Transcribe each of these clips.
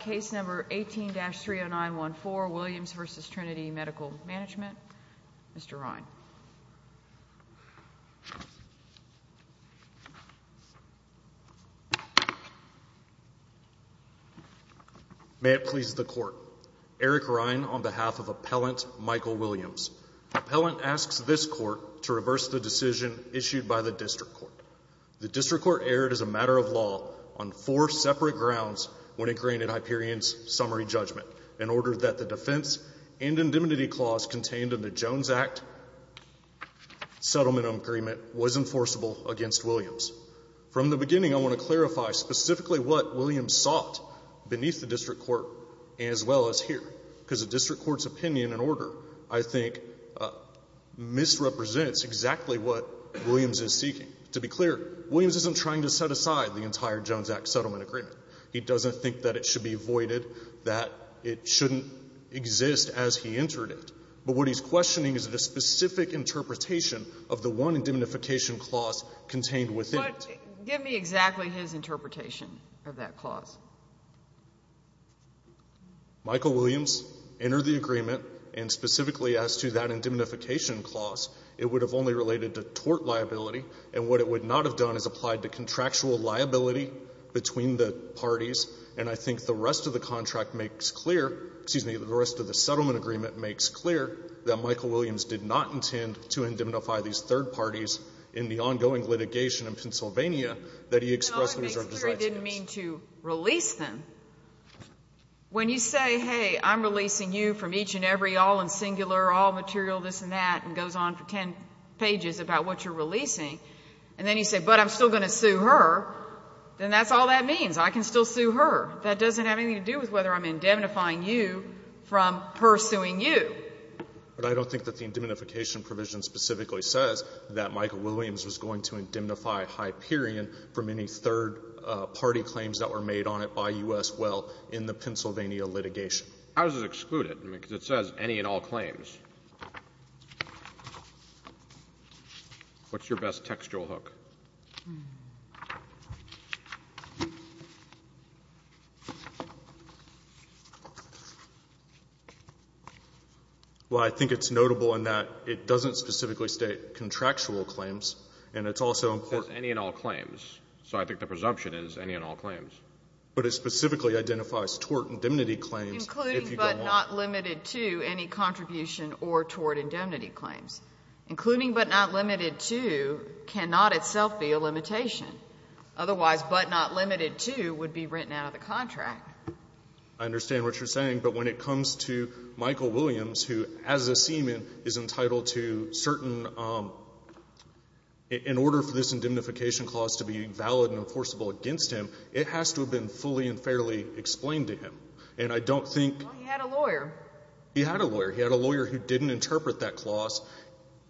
Case number 18-30914, Williams v. Trinity Medical Management. Mr. Rine. May it please the Court. Eric Rine, on behalf of Appellant Michael Williams. Appellant asks this Court to reverse the decision issued by the District Court. The District Court erred as a matter of law on four separate grounds when it granted Hyperion's summary judgment, in order that the defense and indemnity clause contained in the Jones Act settlement agreement was enforceable against Williams. From the beginning, I want to clarify specifically what Williams sought beneath the District Court, as well as here, because the District Court's opinion and order, I think, misrepresents exactly what Williams is seeking. To be clear, Williams isn't trying to set aside the entire Jones Act settlement agreement. He doesn't think that it should be voided, that it shouldn't exist as he entered it. But what he's questioning is the specific interpretation of the one indemnification clause contained within it. But give me exactly his interpretation of that clause. Michael Williams entered the agreement and specifically as to that indemnification clause, it would have only related to tort liability. And what it would not have done is applied to contractual liability between the parties. And I think the rest of the contract makes clear — excuse me, the rest of the settlement agreement makes clear that Michael Williams did not intend to indemnify these third parties in the ongoing litigation in Pennsylvania that he expressed his representations. It didn't mean to release them. When you say, hey, I'm releasing you from each and every all in singular, all material, this and that, and goes on for 10 pages about what you're releasing, and then you say, but I'm still going to sue her, then that's all that means. I can still sue her. That doesn't have anything to do with whether I'm indemnifying you from her suing you. But I don't think that the indemnification provision specifically says that Michael Williams was going to indemnify Hyperion from any third-party claims that were made on it by U.S. Well in the Pennsylvania litigation. How does it exclude it? I mean, because it says any and all claims. What's your best textual hook? Well, I think it's notable in that it doesn't specifically state contractual claims, and it's also important. It says any and all claims. So I think the presumption is any and all claims. But it specifically identifies tort indemnity claims if you go on. Including but not limited to any contribution or tort indemnity claims. Including but not limited to cannot itself be a limitation. Otherwise, but not limited to would be written out of the contract. I understand what you're saying. But when it comes to Michael Williams, who as a seaman is entitled to certain – in order for this indemnification clause to be valid and enforceable against him, it has to have been fully and fairly explained to him. And I don't think Well, he had a lawyer. He had a lawyer. He had a lawyer who didn't interpret that clause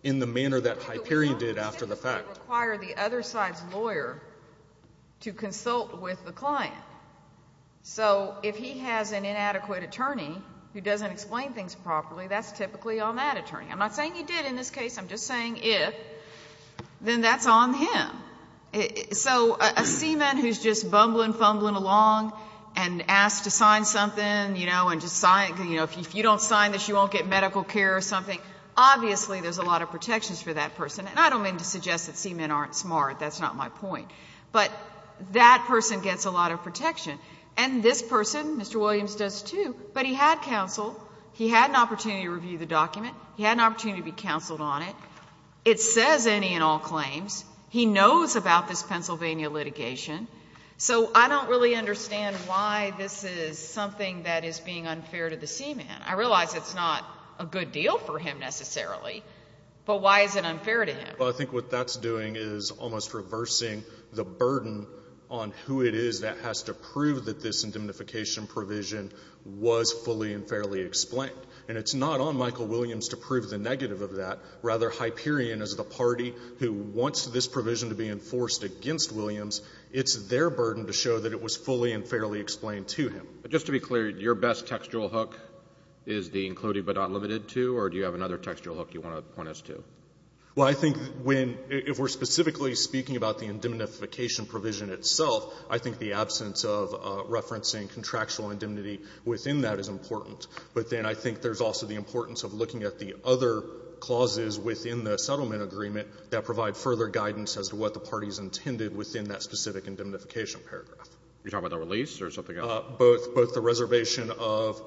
in the manner that Hyperion did after the fact. It would require the other side's lawyer to consult with the client. So if he has an inadequate attorney who doesn't explain things properly, that's typically on that attorney. I'm not saying he did in this case. I'm just saying if, then that's on him. So a seaman who's just bumbling, fumbling along and asked to sign something, you know, and just sign, you know, if you don't sign this, you won't get medical care or something, obviously there's a lot of protections for that person. And I don't mean to suggest that seamen aren't smart. That's not my point. But that person gets a lot of protection. And this person, Mr. Williams does too, but he had counsel. He had an opportunity to review the document. He had an opportunity to be counseled on it. It says any and all claims. He knows about this something that is being unfair to the seaman. I realize it's not a good deal for him, necessarily, but why is it unfair to him? Well, I think what that's doing is almost reversing the burden on who it is that has to prove that this indemnification provision was fully and fairly explained. And it's not on Michael Williams to prove the negative of that. Rather, Hyperion is the party who wants this provision to be enforced against Williams. It's their burden to show that it was fully and fairly explained to him. But just to be clear, your best textual hook is the included but not limited to, or do you have another textual hook you want to point us to? Well, I think when we're specifically speaking about the indemnification provision itself, I think the absence of referencing contractual indemnity within that is important. But then I think there's also the importance of looking at the other clauses within the settlement agreement that provide further guidance as to what the party's intended within that specific indemnification paragraph. Are you talking about the release or something else? Both. Both the reservation of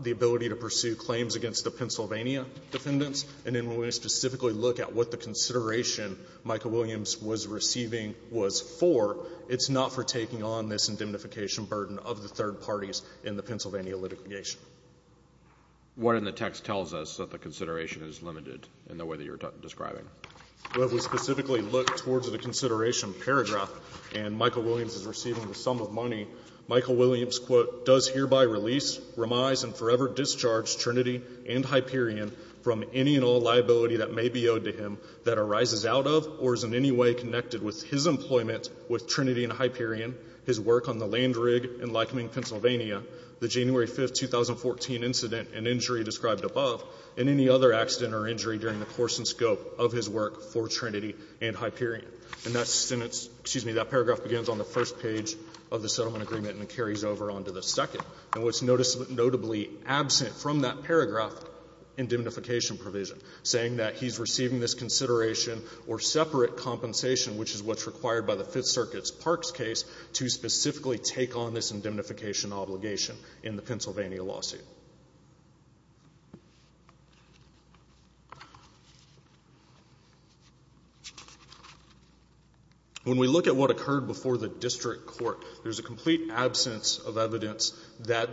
the ability to pursue claims against the Pennsylvania defendants. And then when we specifically look at what the consideration Michael Williams was receiving was for, it's not for taking on this indemnification burden of the third parties in the Pennsylvania litigation. What in the text tells us that the consideration is limited in the way that you're describing? Well, if we specifically look towards the consideration paragraph, and Michael Williams, quote, does hereby release, remise, and forever discharge Trinity and Hyperion from any and all liability that may be owed to him that arises out of or is in any way connected with his employment with Trinity and Hyperion, his work on the land rig in Lycoming, Pennsylvania, the January 5, 2014 incident and injury described above, and any other accident or injury during the course and scope of his work for Trinity and Hyperion. And that sentence, excuse me, that paragraph begins on the first page of the settlement agreement and it carries over on to the second. And what's noticeably absent from that paragraph, indemnification provision, saying that he's receiving this consideration or separate compensation, which is what's required by the Fifth Circuit's Parks case to specifically take on this indemnification obligation in the Pennsylvania lawsuit. When we look at what occurred before the district court, there's a complete absence of evidence that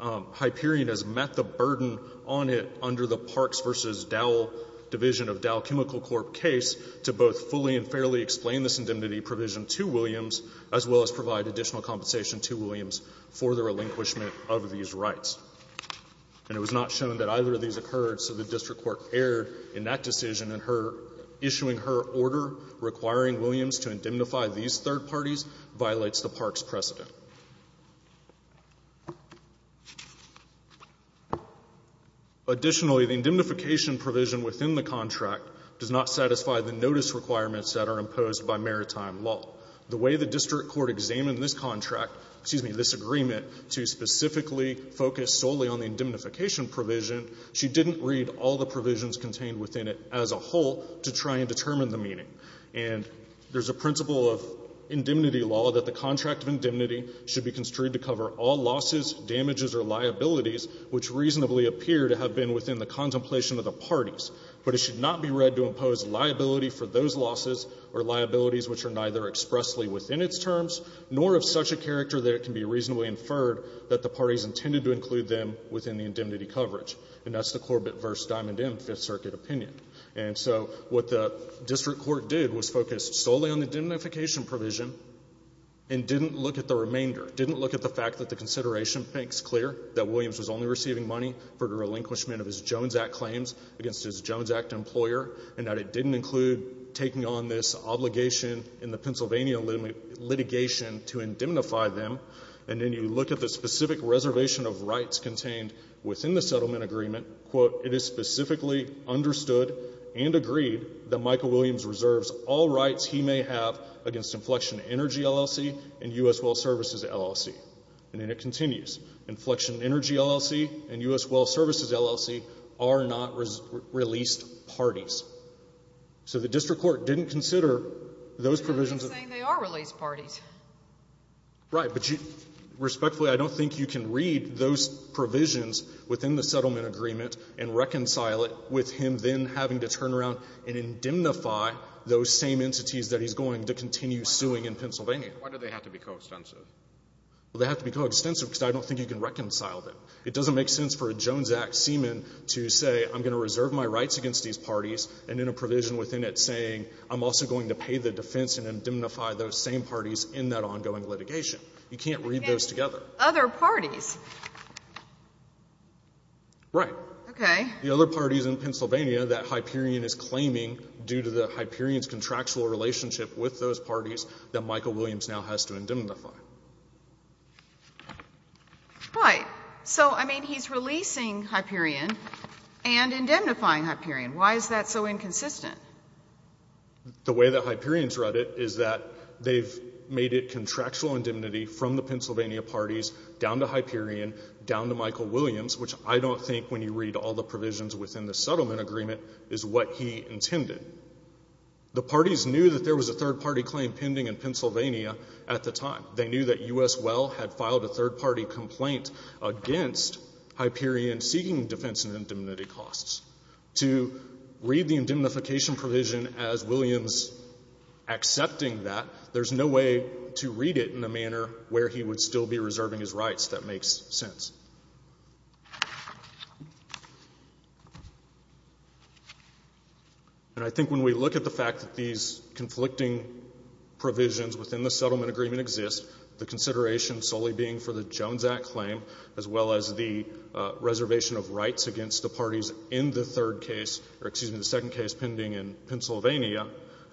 Hyperion has met the burden on it under the Parks v. Dowell division of Dowell Chemical Corp. case to both fully and fairly explain this indemnity provision to Williams as well as provide additional compensation to Williams for the relinquishment of these rights. And it was not shown that either of these occurred, so the district court erred in that decision, and her issuing her order requiring Williams to indemnify these third parties violates the Parks precedent. Additionally, the indemnification provision within the contract does not satisfy the notice requirements that are imposed by maritime law. The way the district court examined this contract, excuse me, this agreement to specifically focus solely on the indemnification provision, she didn't read all the provisions contained within it as a whole to try and determine the meaning. And there's a principle of indemnity law that the contract of indemnity should be construed to cover all losses, damages, or liabilities which reasonably appear to have been within the contemplation of the parties, but it should not be read to impose liability for those losses or liabilities which are neither expressly within its terms nor of such a character that it can be reasonably inferred that the parties intended to include them within the indemnity coverage, and that's the focus solely on the indemnification provision and didn't look at the remainder, didn't look at the fact that the consideration makes clear that Williams was only receiving money for the relinquishment of his Jones Act claims against his Jones Act employer, and that it didn't include taking on this obligation in the Pennsylvania litigation to indemnify them. And then you look at the specific reservation of rights contained within the settlement agreement, quote, it is specifically understood and agreed that Michael Williams reserves all rights he may have against inflection energy LLC and U.S. Well Services LLC. And then it continues. Inflection energy LLC and U.S. Well Services LLC are not released parties. So the district court didn't consider those provisions of the settlement agreement. Sotomayor, you're saying they are released parties. Right. But respectfully, I don't think you can read those provisions within the settlement agreement and reconcile it with him then having to turn around and indemnify those same entities that he's going to continue suing in Pennsylvania. Why do they have to be coextensive? Well, they have to be coextensive because I don't think you can reconcile them. It doesn't make sense for a Jones Act seaman to say, I'm going to reserve my rights against these parties, and then a provision within it saying, I'm also going to pay the defense and indemnify those same parties in that ongoing litigation. You can't read those together. Other parties. Right. Okay. The other parties in Pennsylvania that Hyperion is claiming due to the Hyperion's contractual relationship with those parties that Michael Williams now has to indemnify. Right. So, I mean, he's releasing Hyperion and indemnifying Hyperion. Why is that so inconsistent? The way that Hyperion's read it is that they've made it contractual indemnity from the Pennsylvania parties down to Hyperion, down to Michael Williams, which I don't think when you read all the provisions within the settlement agreement is what he intended. The parties knew that there was a third-party claim pending in Pennsylvania at the time. They knew that U.S. Well had filed a third-party complaint against Hyperion seeking defense and indemnity costs. To read the indemnification provision as Williams accepting that, there's no way to read it in a manner where he would still be reserving his rights. That makes sense. And I think when we look at the fact that these conflicting provisions within the settlement agreement exist, the consideration solely being for the Jones Act claim, as well as the reservation of rights against the parties in the third case or, excuse me, the second case pending in Pennsylvania,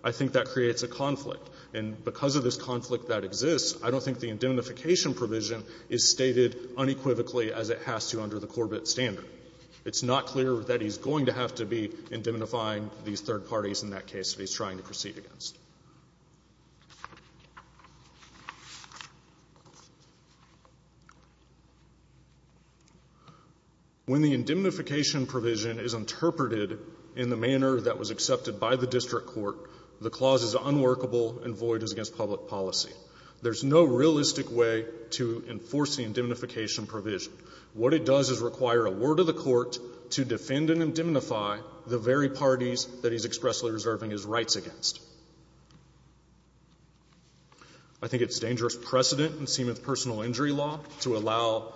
I think that creates a conflict. And because of this conflict that exists, I don't think the indemnification provision is stated unequivocally as it has to under the Corbett standard. It's not clear that he's going to have to be indemnifying these third parties in that case that he's trying to proceed against. When the indemnification provision is interpreted in the manner that was accepted by the district court, the clause is unworkable and void as against public policy. There's no realistic way to enforce the indemnification provision. What it does is require a word of the Court to defend and indemnify the very parties that he's expressly reserving his rights against. I think it's dangerous precedent in Seamith personal injury law to allow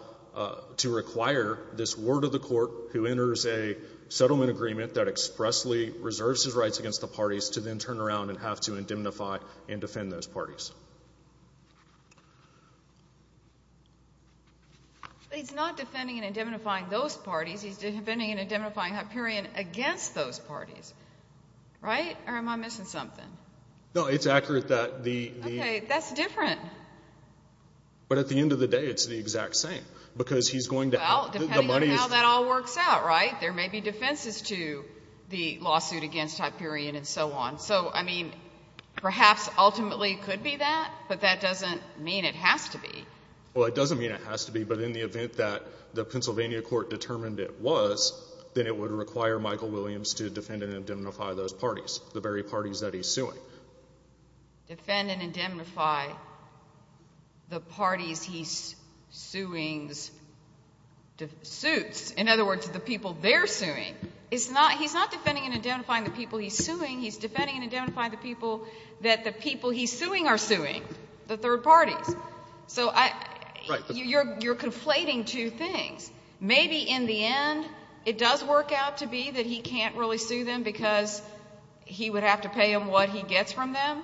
to require this word of the Court who enters a settlement agreement that expressly reserves his rights against the parties to then turn around and have to indemnify and defend those parties. He's not defending and indemnifying those parties. He's defending and indemnifying Hyperion against those parties, right? Or am I missing something? No, it's accurate that the the... Okay. That's different. But at the end of the day, it's the exact same because he's going to have... Well, depending on how that all works out, right? There may be defenses to the lawsuit against Hyperion and so on. So, I mean, perhaps ultimately it could be that, but that doesn't mean it has to be. Well, it doesn't mean it has to be, but in the event that the Pennsylvania court determined it was, then it would require Michael Williams to defend and indemnify those parties, the very parties that he's suing. Defend and indemnify the parties he's suing's suits. In other words, the people they're suing. It's not he's not defending and indemnifying the people he's suing. He's defending and indemnifying the people that the people he's suing are suing, the third parties. So, you're conflating two things. Maybe in the end, it does work out to be that he can't really sue them because he would have to pay him what he gets from them.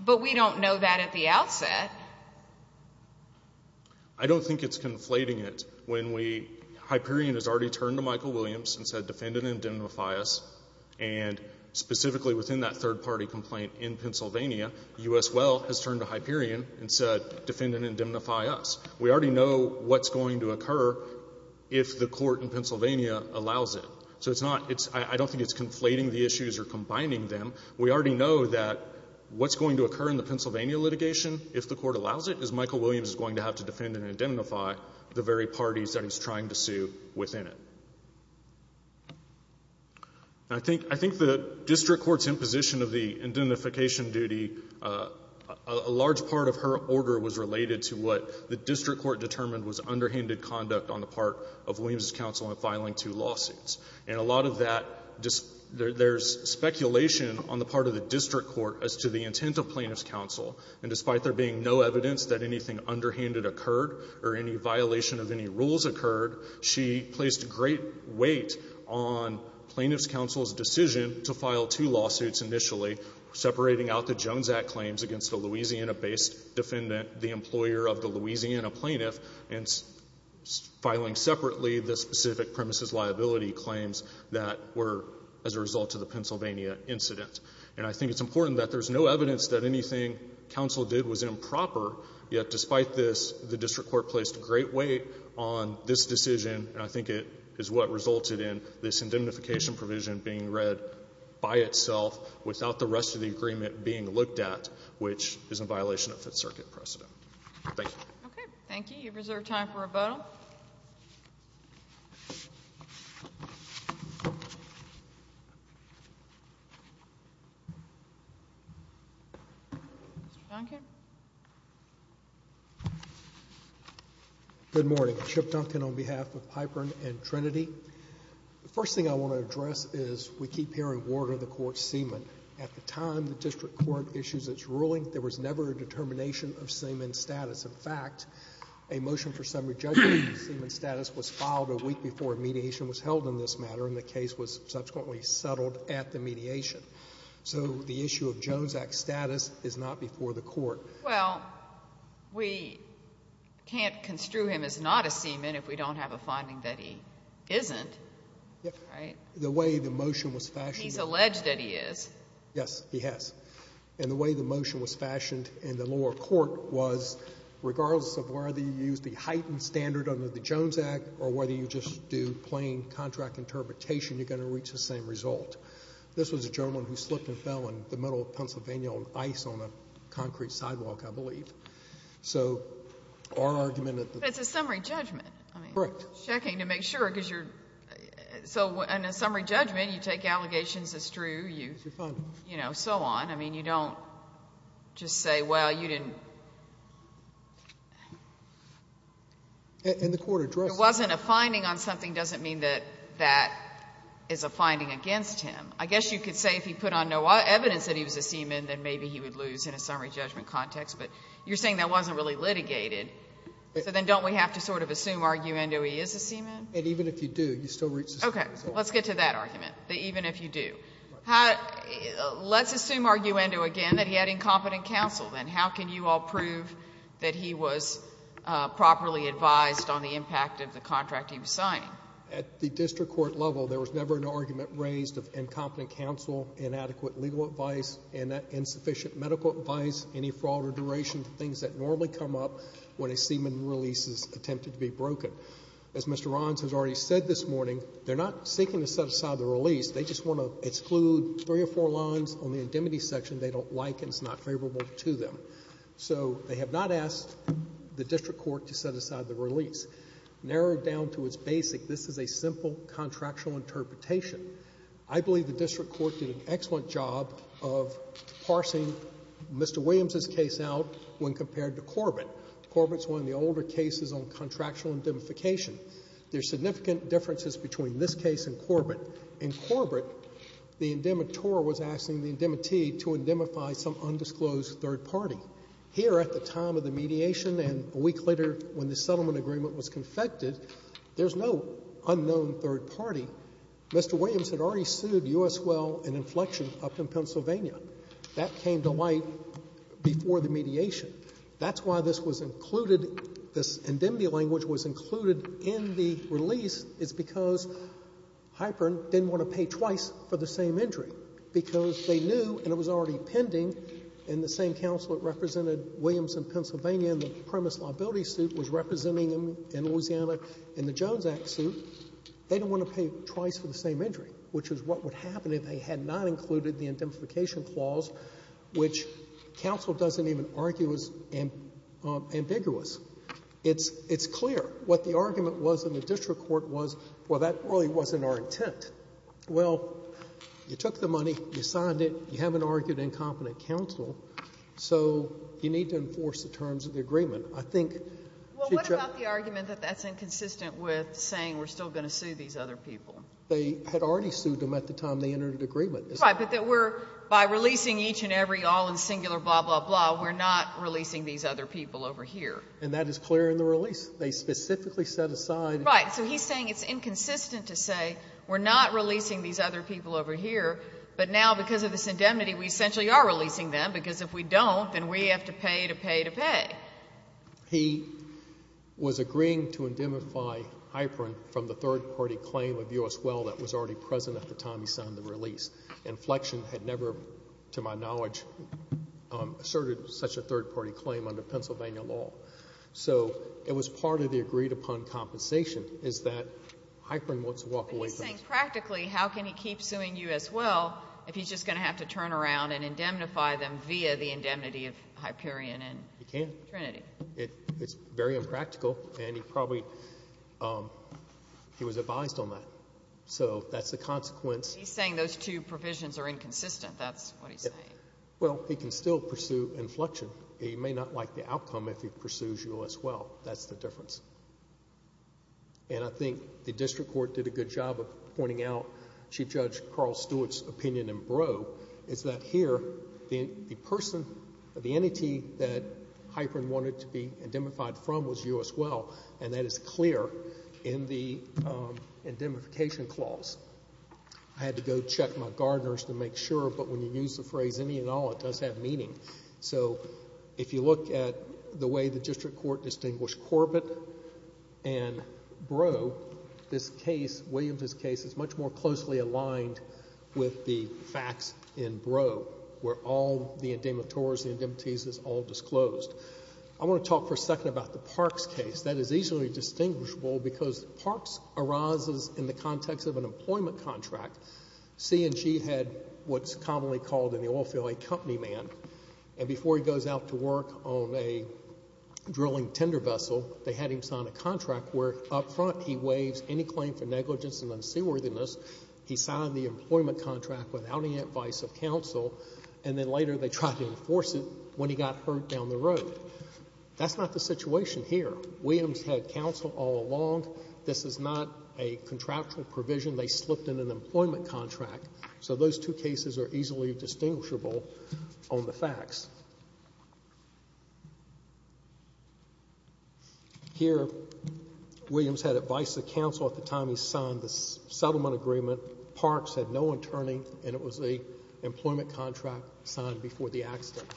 But we don't know that at the outset. I don't think it's conflating it when we... Hyperion has already turned to Michael Williams and said, defend and indemnify us, and specifically within that third-party complaint in Pennsylvania, U.S. Well has turned to Hyperion and said, defend and indemnify us. We already know what's going to occur if the court in Pennsylvania allows it. So, it's not, it's, I don't think it's conflating the issues or combining them. We already know that what's going to occur in the Pennsylvania litigation, if the court allows it, is Michael Williams is going to have to defend and indemnify the very parties that he's trying to sue within it. I think the district court's imposition of the indemnification duty, a large part of her order was related to what the district court determined was underhanded conduct on the part of Williams' counsel in filing two lawsuits. And a lot of that, there's speculation on the part of the district court as to the intent of plaintiff's counsel, and despite there being no evidence that anything underhanded occurred or any violation of any rules occurred, she placed great weight on plaintiff's counsel's decision to file two lawsuits initially, separating out the Jones Act claims against the Louisiana-based defendant, the employer of the Louisiana plaintiff, and filing separately the specific premises liability claims that were as a result of the Pennsylvania incident. And I think it's important that there's no evidence that anything counsel did was improper, yet despite this, the district court placed great weight on this decision, and I think it is what resulted in this indemnification provision being read by itself without the rest of the agreement being looked at, which is in violation of Fifth Circuit precedent. Thank you. Okay. Thank you. You have reserved time for a vote. Good morning. Chip Duncan on behalf of Piper and Trinity. The first thing I want to address is we keep hearing, Warder, the court's semen. At the time the district court issues its ruling, there was never a determination of semen status. In fact, a motion for summary judgment of semen status was filed a week before mediation was held in this matter, and the case was subsequently settled at the mediation. So the issue of Jones Act status is not before the court. Well, we can't construe him as not a semen if we don't have a finding that he isn't, right? The way the motion was fashioned. He's alleged that he is. Yes, he has. And the way the motion was fashioned in the lower court was, regardless of whether you use the heightened standard under the Jones Act or whether you just do plain contract interpretation, you're going to reach the same result. This was a gentleman who slipped and fell in the middle of Pennsylvania on ice on a concrete sidewalk, I believe. So our argument at the time. But it's a summary judgment. Correct. I mean, checking to make sure, because you're so in a summary judgment, you take allegations as true, you, you know, so on. I mean, you don't just say, well, you didn't. And the court addressed that. It wasn't a finding on something doesn't mean that that is a finding against him. I guess you could say if he put on no evidence that he was a semen, then maybe he would lose in a summary judgment context. But you're saying that wasn't really litigated. So then don't we have to sort of assume, argument, oh, he is a semen? And even if you do, you still reach the same result. Okay. Let's get to that argument, that even if you do. Let's assume, arguendo again, that he had incompetent counsel. Then how can you all prove that he was properly advised on the impact of the contract he was signing? At the district court level, there was never an argument raised of incompetent counsel, inadequate legal advice, insufficient medical advice, any fraud or duration of things that normally come up when a semen release is attempted to be broken. As Mr. Rohns has already said this morning, they're not seeking to set aside the release. They just want to exclude three or four lines on the indemnity section they don't like and it's not favorable to them. So they have not asked the district court to set aside the release. Narrowed down to its basic, this is a simple contractual interpretation. I believe the district court did an excellent job of parsing Mr. Williams' case out when compared to Corbett. Corbett's one of the older cases on contractual indemnification. There's significant differences between this case and Corbett. In Corbett, the indemnitor was asking the indemnity to indemnify some undisclosed third party. Here at the time of the mediation and a week later when the settlement agreement was confected, there's no unknown third party. Mr. Williams had already sued U.S. Well and Inflection up in Pennsylvania. That came to light before the mediation. That's why this was included, this indemnity language was included in the release is because Hypern didn't want to pay twice for the same entry, because they knew and it was already pending and the same counsel that represented Williams in Pennsylvania in the premise liability suit was representing them in Louisiana in the Jones Act suit. They didn't want to pay twice for the same entry, which is what would happen if they had not included the indemnification clause, which counsel doesn't even argue is ambiguous. It's clear. What the argument was in the district court was, well, that really wasn't our intent. Well, you took the money, you signed it, you haven't argued incompetent counsel, so you need to enforce the terms of the agreement. I think future ---- Well, what about the argument that that's inconsistent with saying we're still going to sue these other people? They had already sued them at the time they entered the agreement. Right, but that we're by releasing each and every all in singular blah, blah, blah, we're not releasing these other people over here. And that is clear in the release. They specifically set aside ---- Right. So he's saying it's inconsistent to say we're not releasing these other people over here, but now because of this indemnity, we essentially are releasing them, because if we don't, then we have to pay to pay to pay. He was agreeing to indemnify Hyperion from the third-party claim of U.S. Well that was already present at the time he signed the release. Inflection had never, to my knowledge, asserted such a third-party claim under Pennsylvania law. So it was part of the agreed-upon compensation is that Hyperion wants to walk away from this. But he's saying practically how can he keep suing U.S. Well if he's just going to have to turn around and indemnify them via the indemnity of Hyperion and ---- He can't. Trinity. It's very impractical and he probably, he was advised on that. So that's the consequence. He's saying those two provisions are inconsistent. That's what he's saying. Well, he can still pursue inflection. He may not like the outcome if he pursues U.S. Well. That's the difference. And I think the district court did a good job of pointing out Chief Judge Carl Stewart's opinion in Breaux is that here the person, the entity that Hyperion wanted to be indemnified from was U.S. Well. And that is clear in the indemnification clause. I had to go check my gardeners to make sure. But when you use the phrase any and all, it does have meaning. So if you look at the way the district court distinguished Corbett and Breaux, this case, Williams' case, is much more closely aligned with the facts in Breaux where all the indemnitors, the indemnities is all disclosed. I want to talk for a second about the Parks case. That is easily distinguishable because Parks arises in the context of an employment contract. C&G had what's commonly called in the oil field a company man. And before he goes out to work on a drilling tender vessel, they had him sign a claim for negligence and unseaworthiness. He signed the employment contract without any advice of counsel. And then later they tried to enforce it when he got hurt down the road. That's not the situation here. Williams had counsel all along. This is not a contractual provision. They slipped in an employment contract. So those two cases are easily distinguishable on the facts. Here, Williams had advice of counsel at the time he signed the settlement agreement. Parks had no attorney, and it was an employment contract signed before the accident.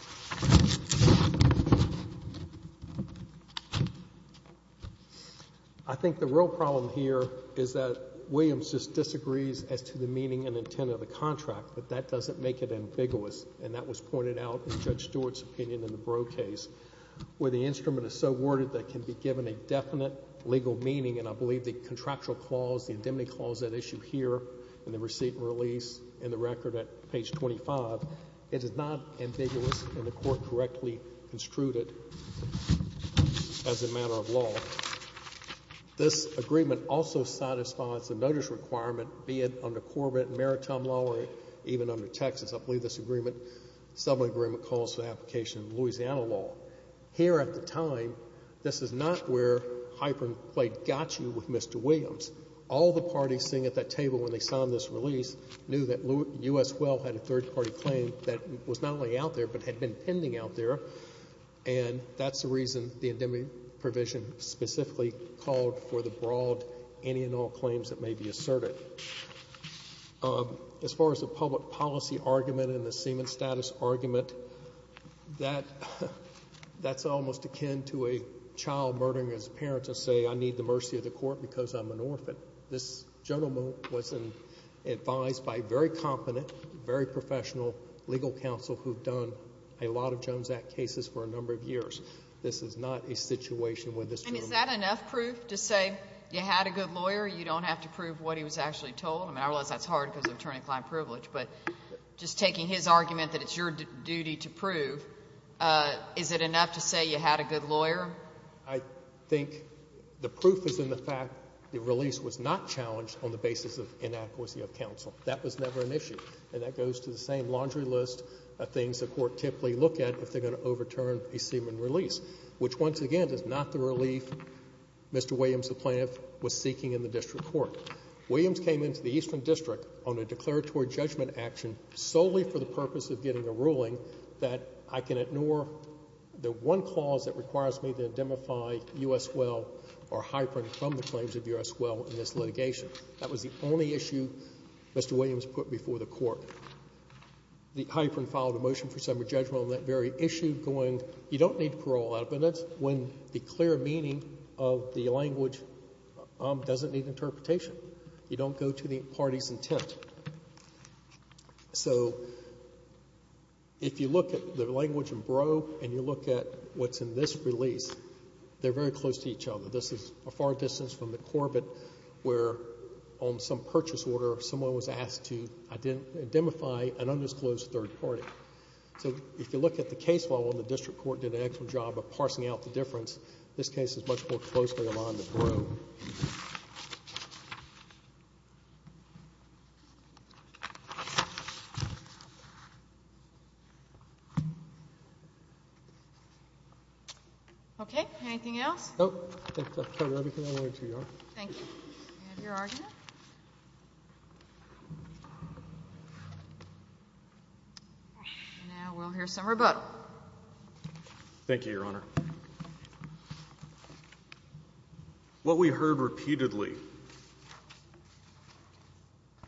I think the real problem here is that Williams just disagrees as to the meaning and intent of the contract, but that doesn't make it ambiguous. And that was pointed out in Judge Stewart's opinion in the Breaux case, where the instrument is so worded that it can be given a definite legal meaning. And I believe the contractual clause, the indemnity clause, that issue here in the receipt and release in the record at page 25, it is not ambiguous and the Court correctly construed it as a matter of law. This agreement also satisfies the notice requirement, be it under Corbett and Maritime law or even under Texas. I believe this agreement, settlement agreement, calls for the application of Louisiana law. Here at the time, this is not where Hyper played got you with Mr. Williams. All the parties sitting at that table when they signed this release knew that U.S. Well had a third-party claim that was not only out there but had been pending out there, and that's the reason the indemnity provision specifically called for the broad any and all claims that may be asserted. As far as the public policy argument and the semen status argument, that's almost akin to a child murdering his parents to say, I need the mercy of the court because I'm an orphan. This gentleman was advised by a very competent, very professional legal counsel who have done a lot of Jones Act cases for a number of years. This is not a situation where this gentleman was. And is that enough proof to say you had a good lawyer, you don't have to prove what he was actually told? I realize that's hard because of attorney-client privilege, but just taking his argument that it's your duty to prove, is it enough to say you had a good lawyer? I think the proof is in the fact the release was not challenged on the basis of inadequacy of counsel. That was never an issue. And that goes to the same laundry list of things the court typically look at if they're going to overturn a semen release, which, once again, is not the relief Mr. Williams, the plaintiff, was seeking in the district court. Williams came into the Eastern District on a declaratory judgment action solely for the purpose of getting a ruling that I can ignore the one clause that requires me to indemnify U.S. Well or Hyprin from the claims of U.S. Well in this litigation. That was the only issue Mr. Williams put before the court. The Hyprin filed a motion for summary judgment on that very issue going, you don't need parole out, but that's when the clear meaning of the language doesn't need interpretation. You don't go to the party's intent. So if you look at the language in Brough and you look at what's in this release, they're very close to each other. This is a far distance from the Corbett where on some purchase order someone was asked to indemnify an undisclosed third party. So if you look at the case level, the district court did an excellent job of parsing out the difference. This case is much more closely aligned with Brough. Okay. Anything else? I think that covers everything I wanted to, Your Honor. Thank you. Do we have your argument? Now we'll hear some rebuttal. Thank you, Your Honor. What we heard repeatedly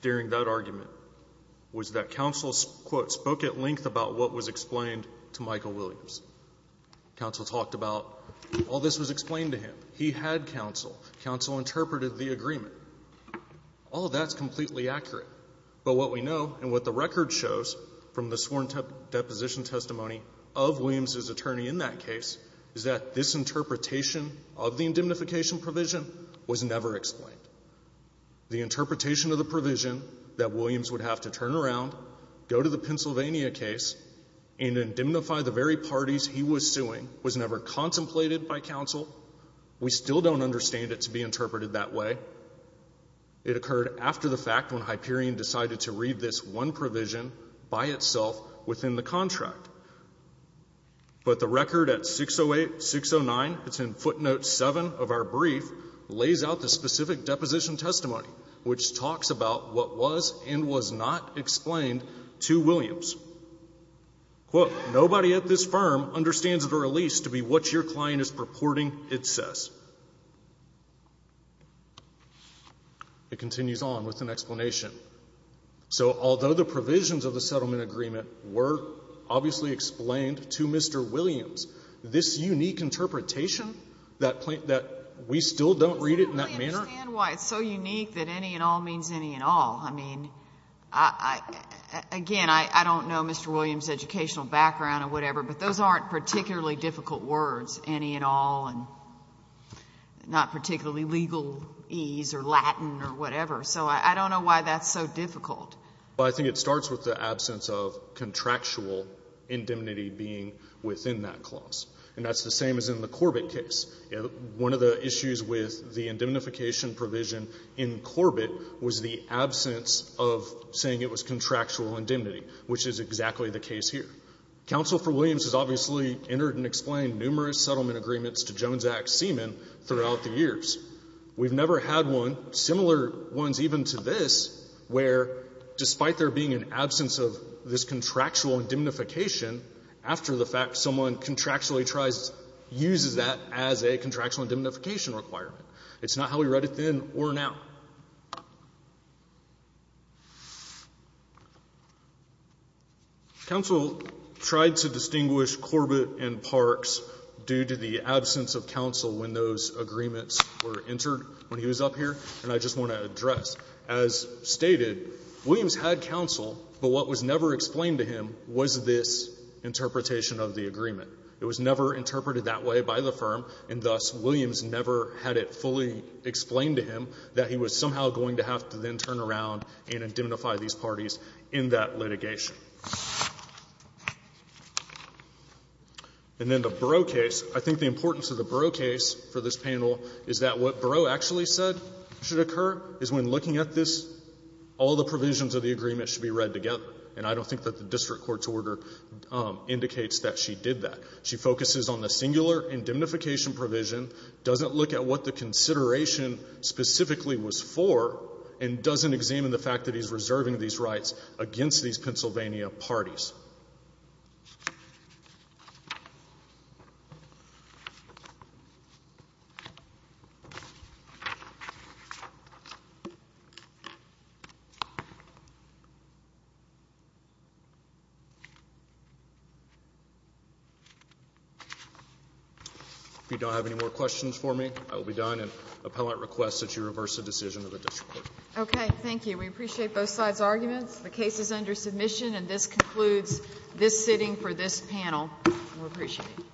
during that argument was that counsel, quote, spoke at length about what was explained to Michael Williams. Counsel talked about all this was explained to him. He had counsel. Counsel interpreted the agreement. All of that's completely accurate. But what we know and what the record shows from the sworn deposition testimony of Williams' attorney in that case is that this interpretation of the indemnification provision was never explained. The interpretation of the provision that Williams would have to turn around, go to the Pennsylvania case, and indemnify the very parties he was suing was never contemplated by counsel. We still don't understand it to be interpreted that way. It occurred after the fact when Hyperion decided to read this one provision by itself within the contract. But the record at 608, 609, it's in footnote 7 of our brief, lays out the specific deposition testimony, which talks about what was and was not explained to Williams. Quote, nobody at this firm understands the release to be what your client is purporting it says. It continues on with an explanation. So although the provisions of the settlement agreement were obviously explained to Mr. Williams, this unique interpretation that we still don't read it in that manner? I don't understand why it's so unique that any and all means any and all. I mean, again, I don't know Mr. Williams' educational background or whatever, but those aren't particularly difficult words, any and all, and not particularly legalese or Latin or whatever. So I don't know why that's so difficult. I think it starts with the absence of contractual indemnity being within that clause. And that's the same as in the Corbett case. One of the issues with the indemnification provision in Corbett was the absence of saying it was contractual indemnity, which is exactly the case here. Counsel for Williams has obviously entered and explained numerous settlement agreements to Jones Act seamen throughout the years. We've never had one, similar ones even to this, where despite there being an absence of this contractual indemnification after the fact, someone contractually tries to use that as a contractual indemnification requirement. It's not how we read it then or now. Counsel tried to distinguish Corbett and Parks due to the absence of counsel when those agreements were entered when he was up here, and I just want to address as stated, Williams had counsel, but what was never explained to him was this interpretation of the agreement. It was never interpreted that way by the firm, and thus Williams never had it fully explained to him that he was somehow going to have to then turn around and indemnify these parties in that litigation. And then the Bureau case, I think the importance of the Bureau case for this panel is that what Bureau actually said should occur is when looking at this, all the provisions of the agreement should be read together. And I don't think that the district court's order indicates that she did that. She focuses on the singular indemnification provision, doesn't look at what the consideration specifically was for, and doesn't examine the fact that he's reserving these rights against these Pennsylvania parties. If you don't have any more questions for me, I will be done. And the appellant requests that you reverse the decision of the district court. Okay. Thank you. We appreciate both sides' arguments. The case is under submission, and this concludes this sitting for this panel. We appreciate it. Thank you.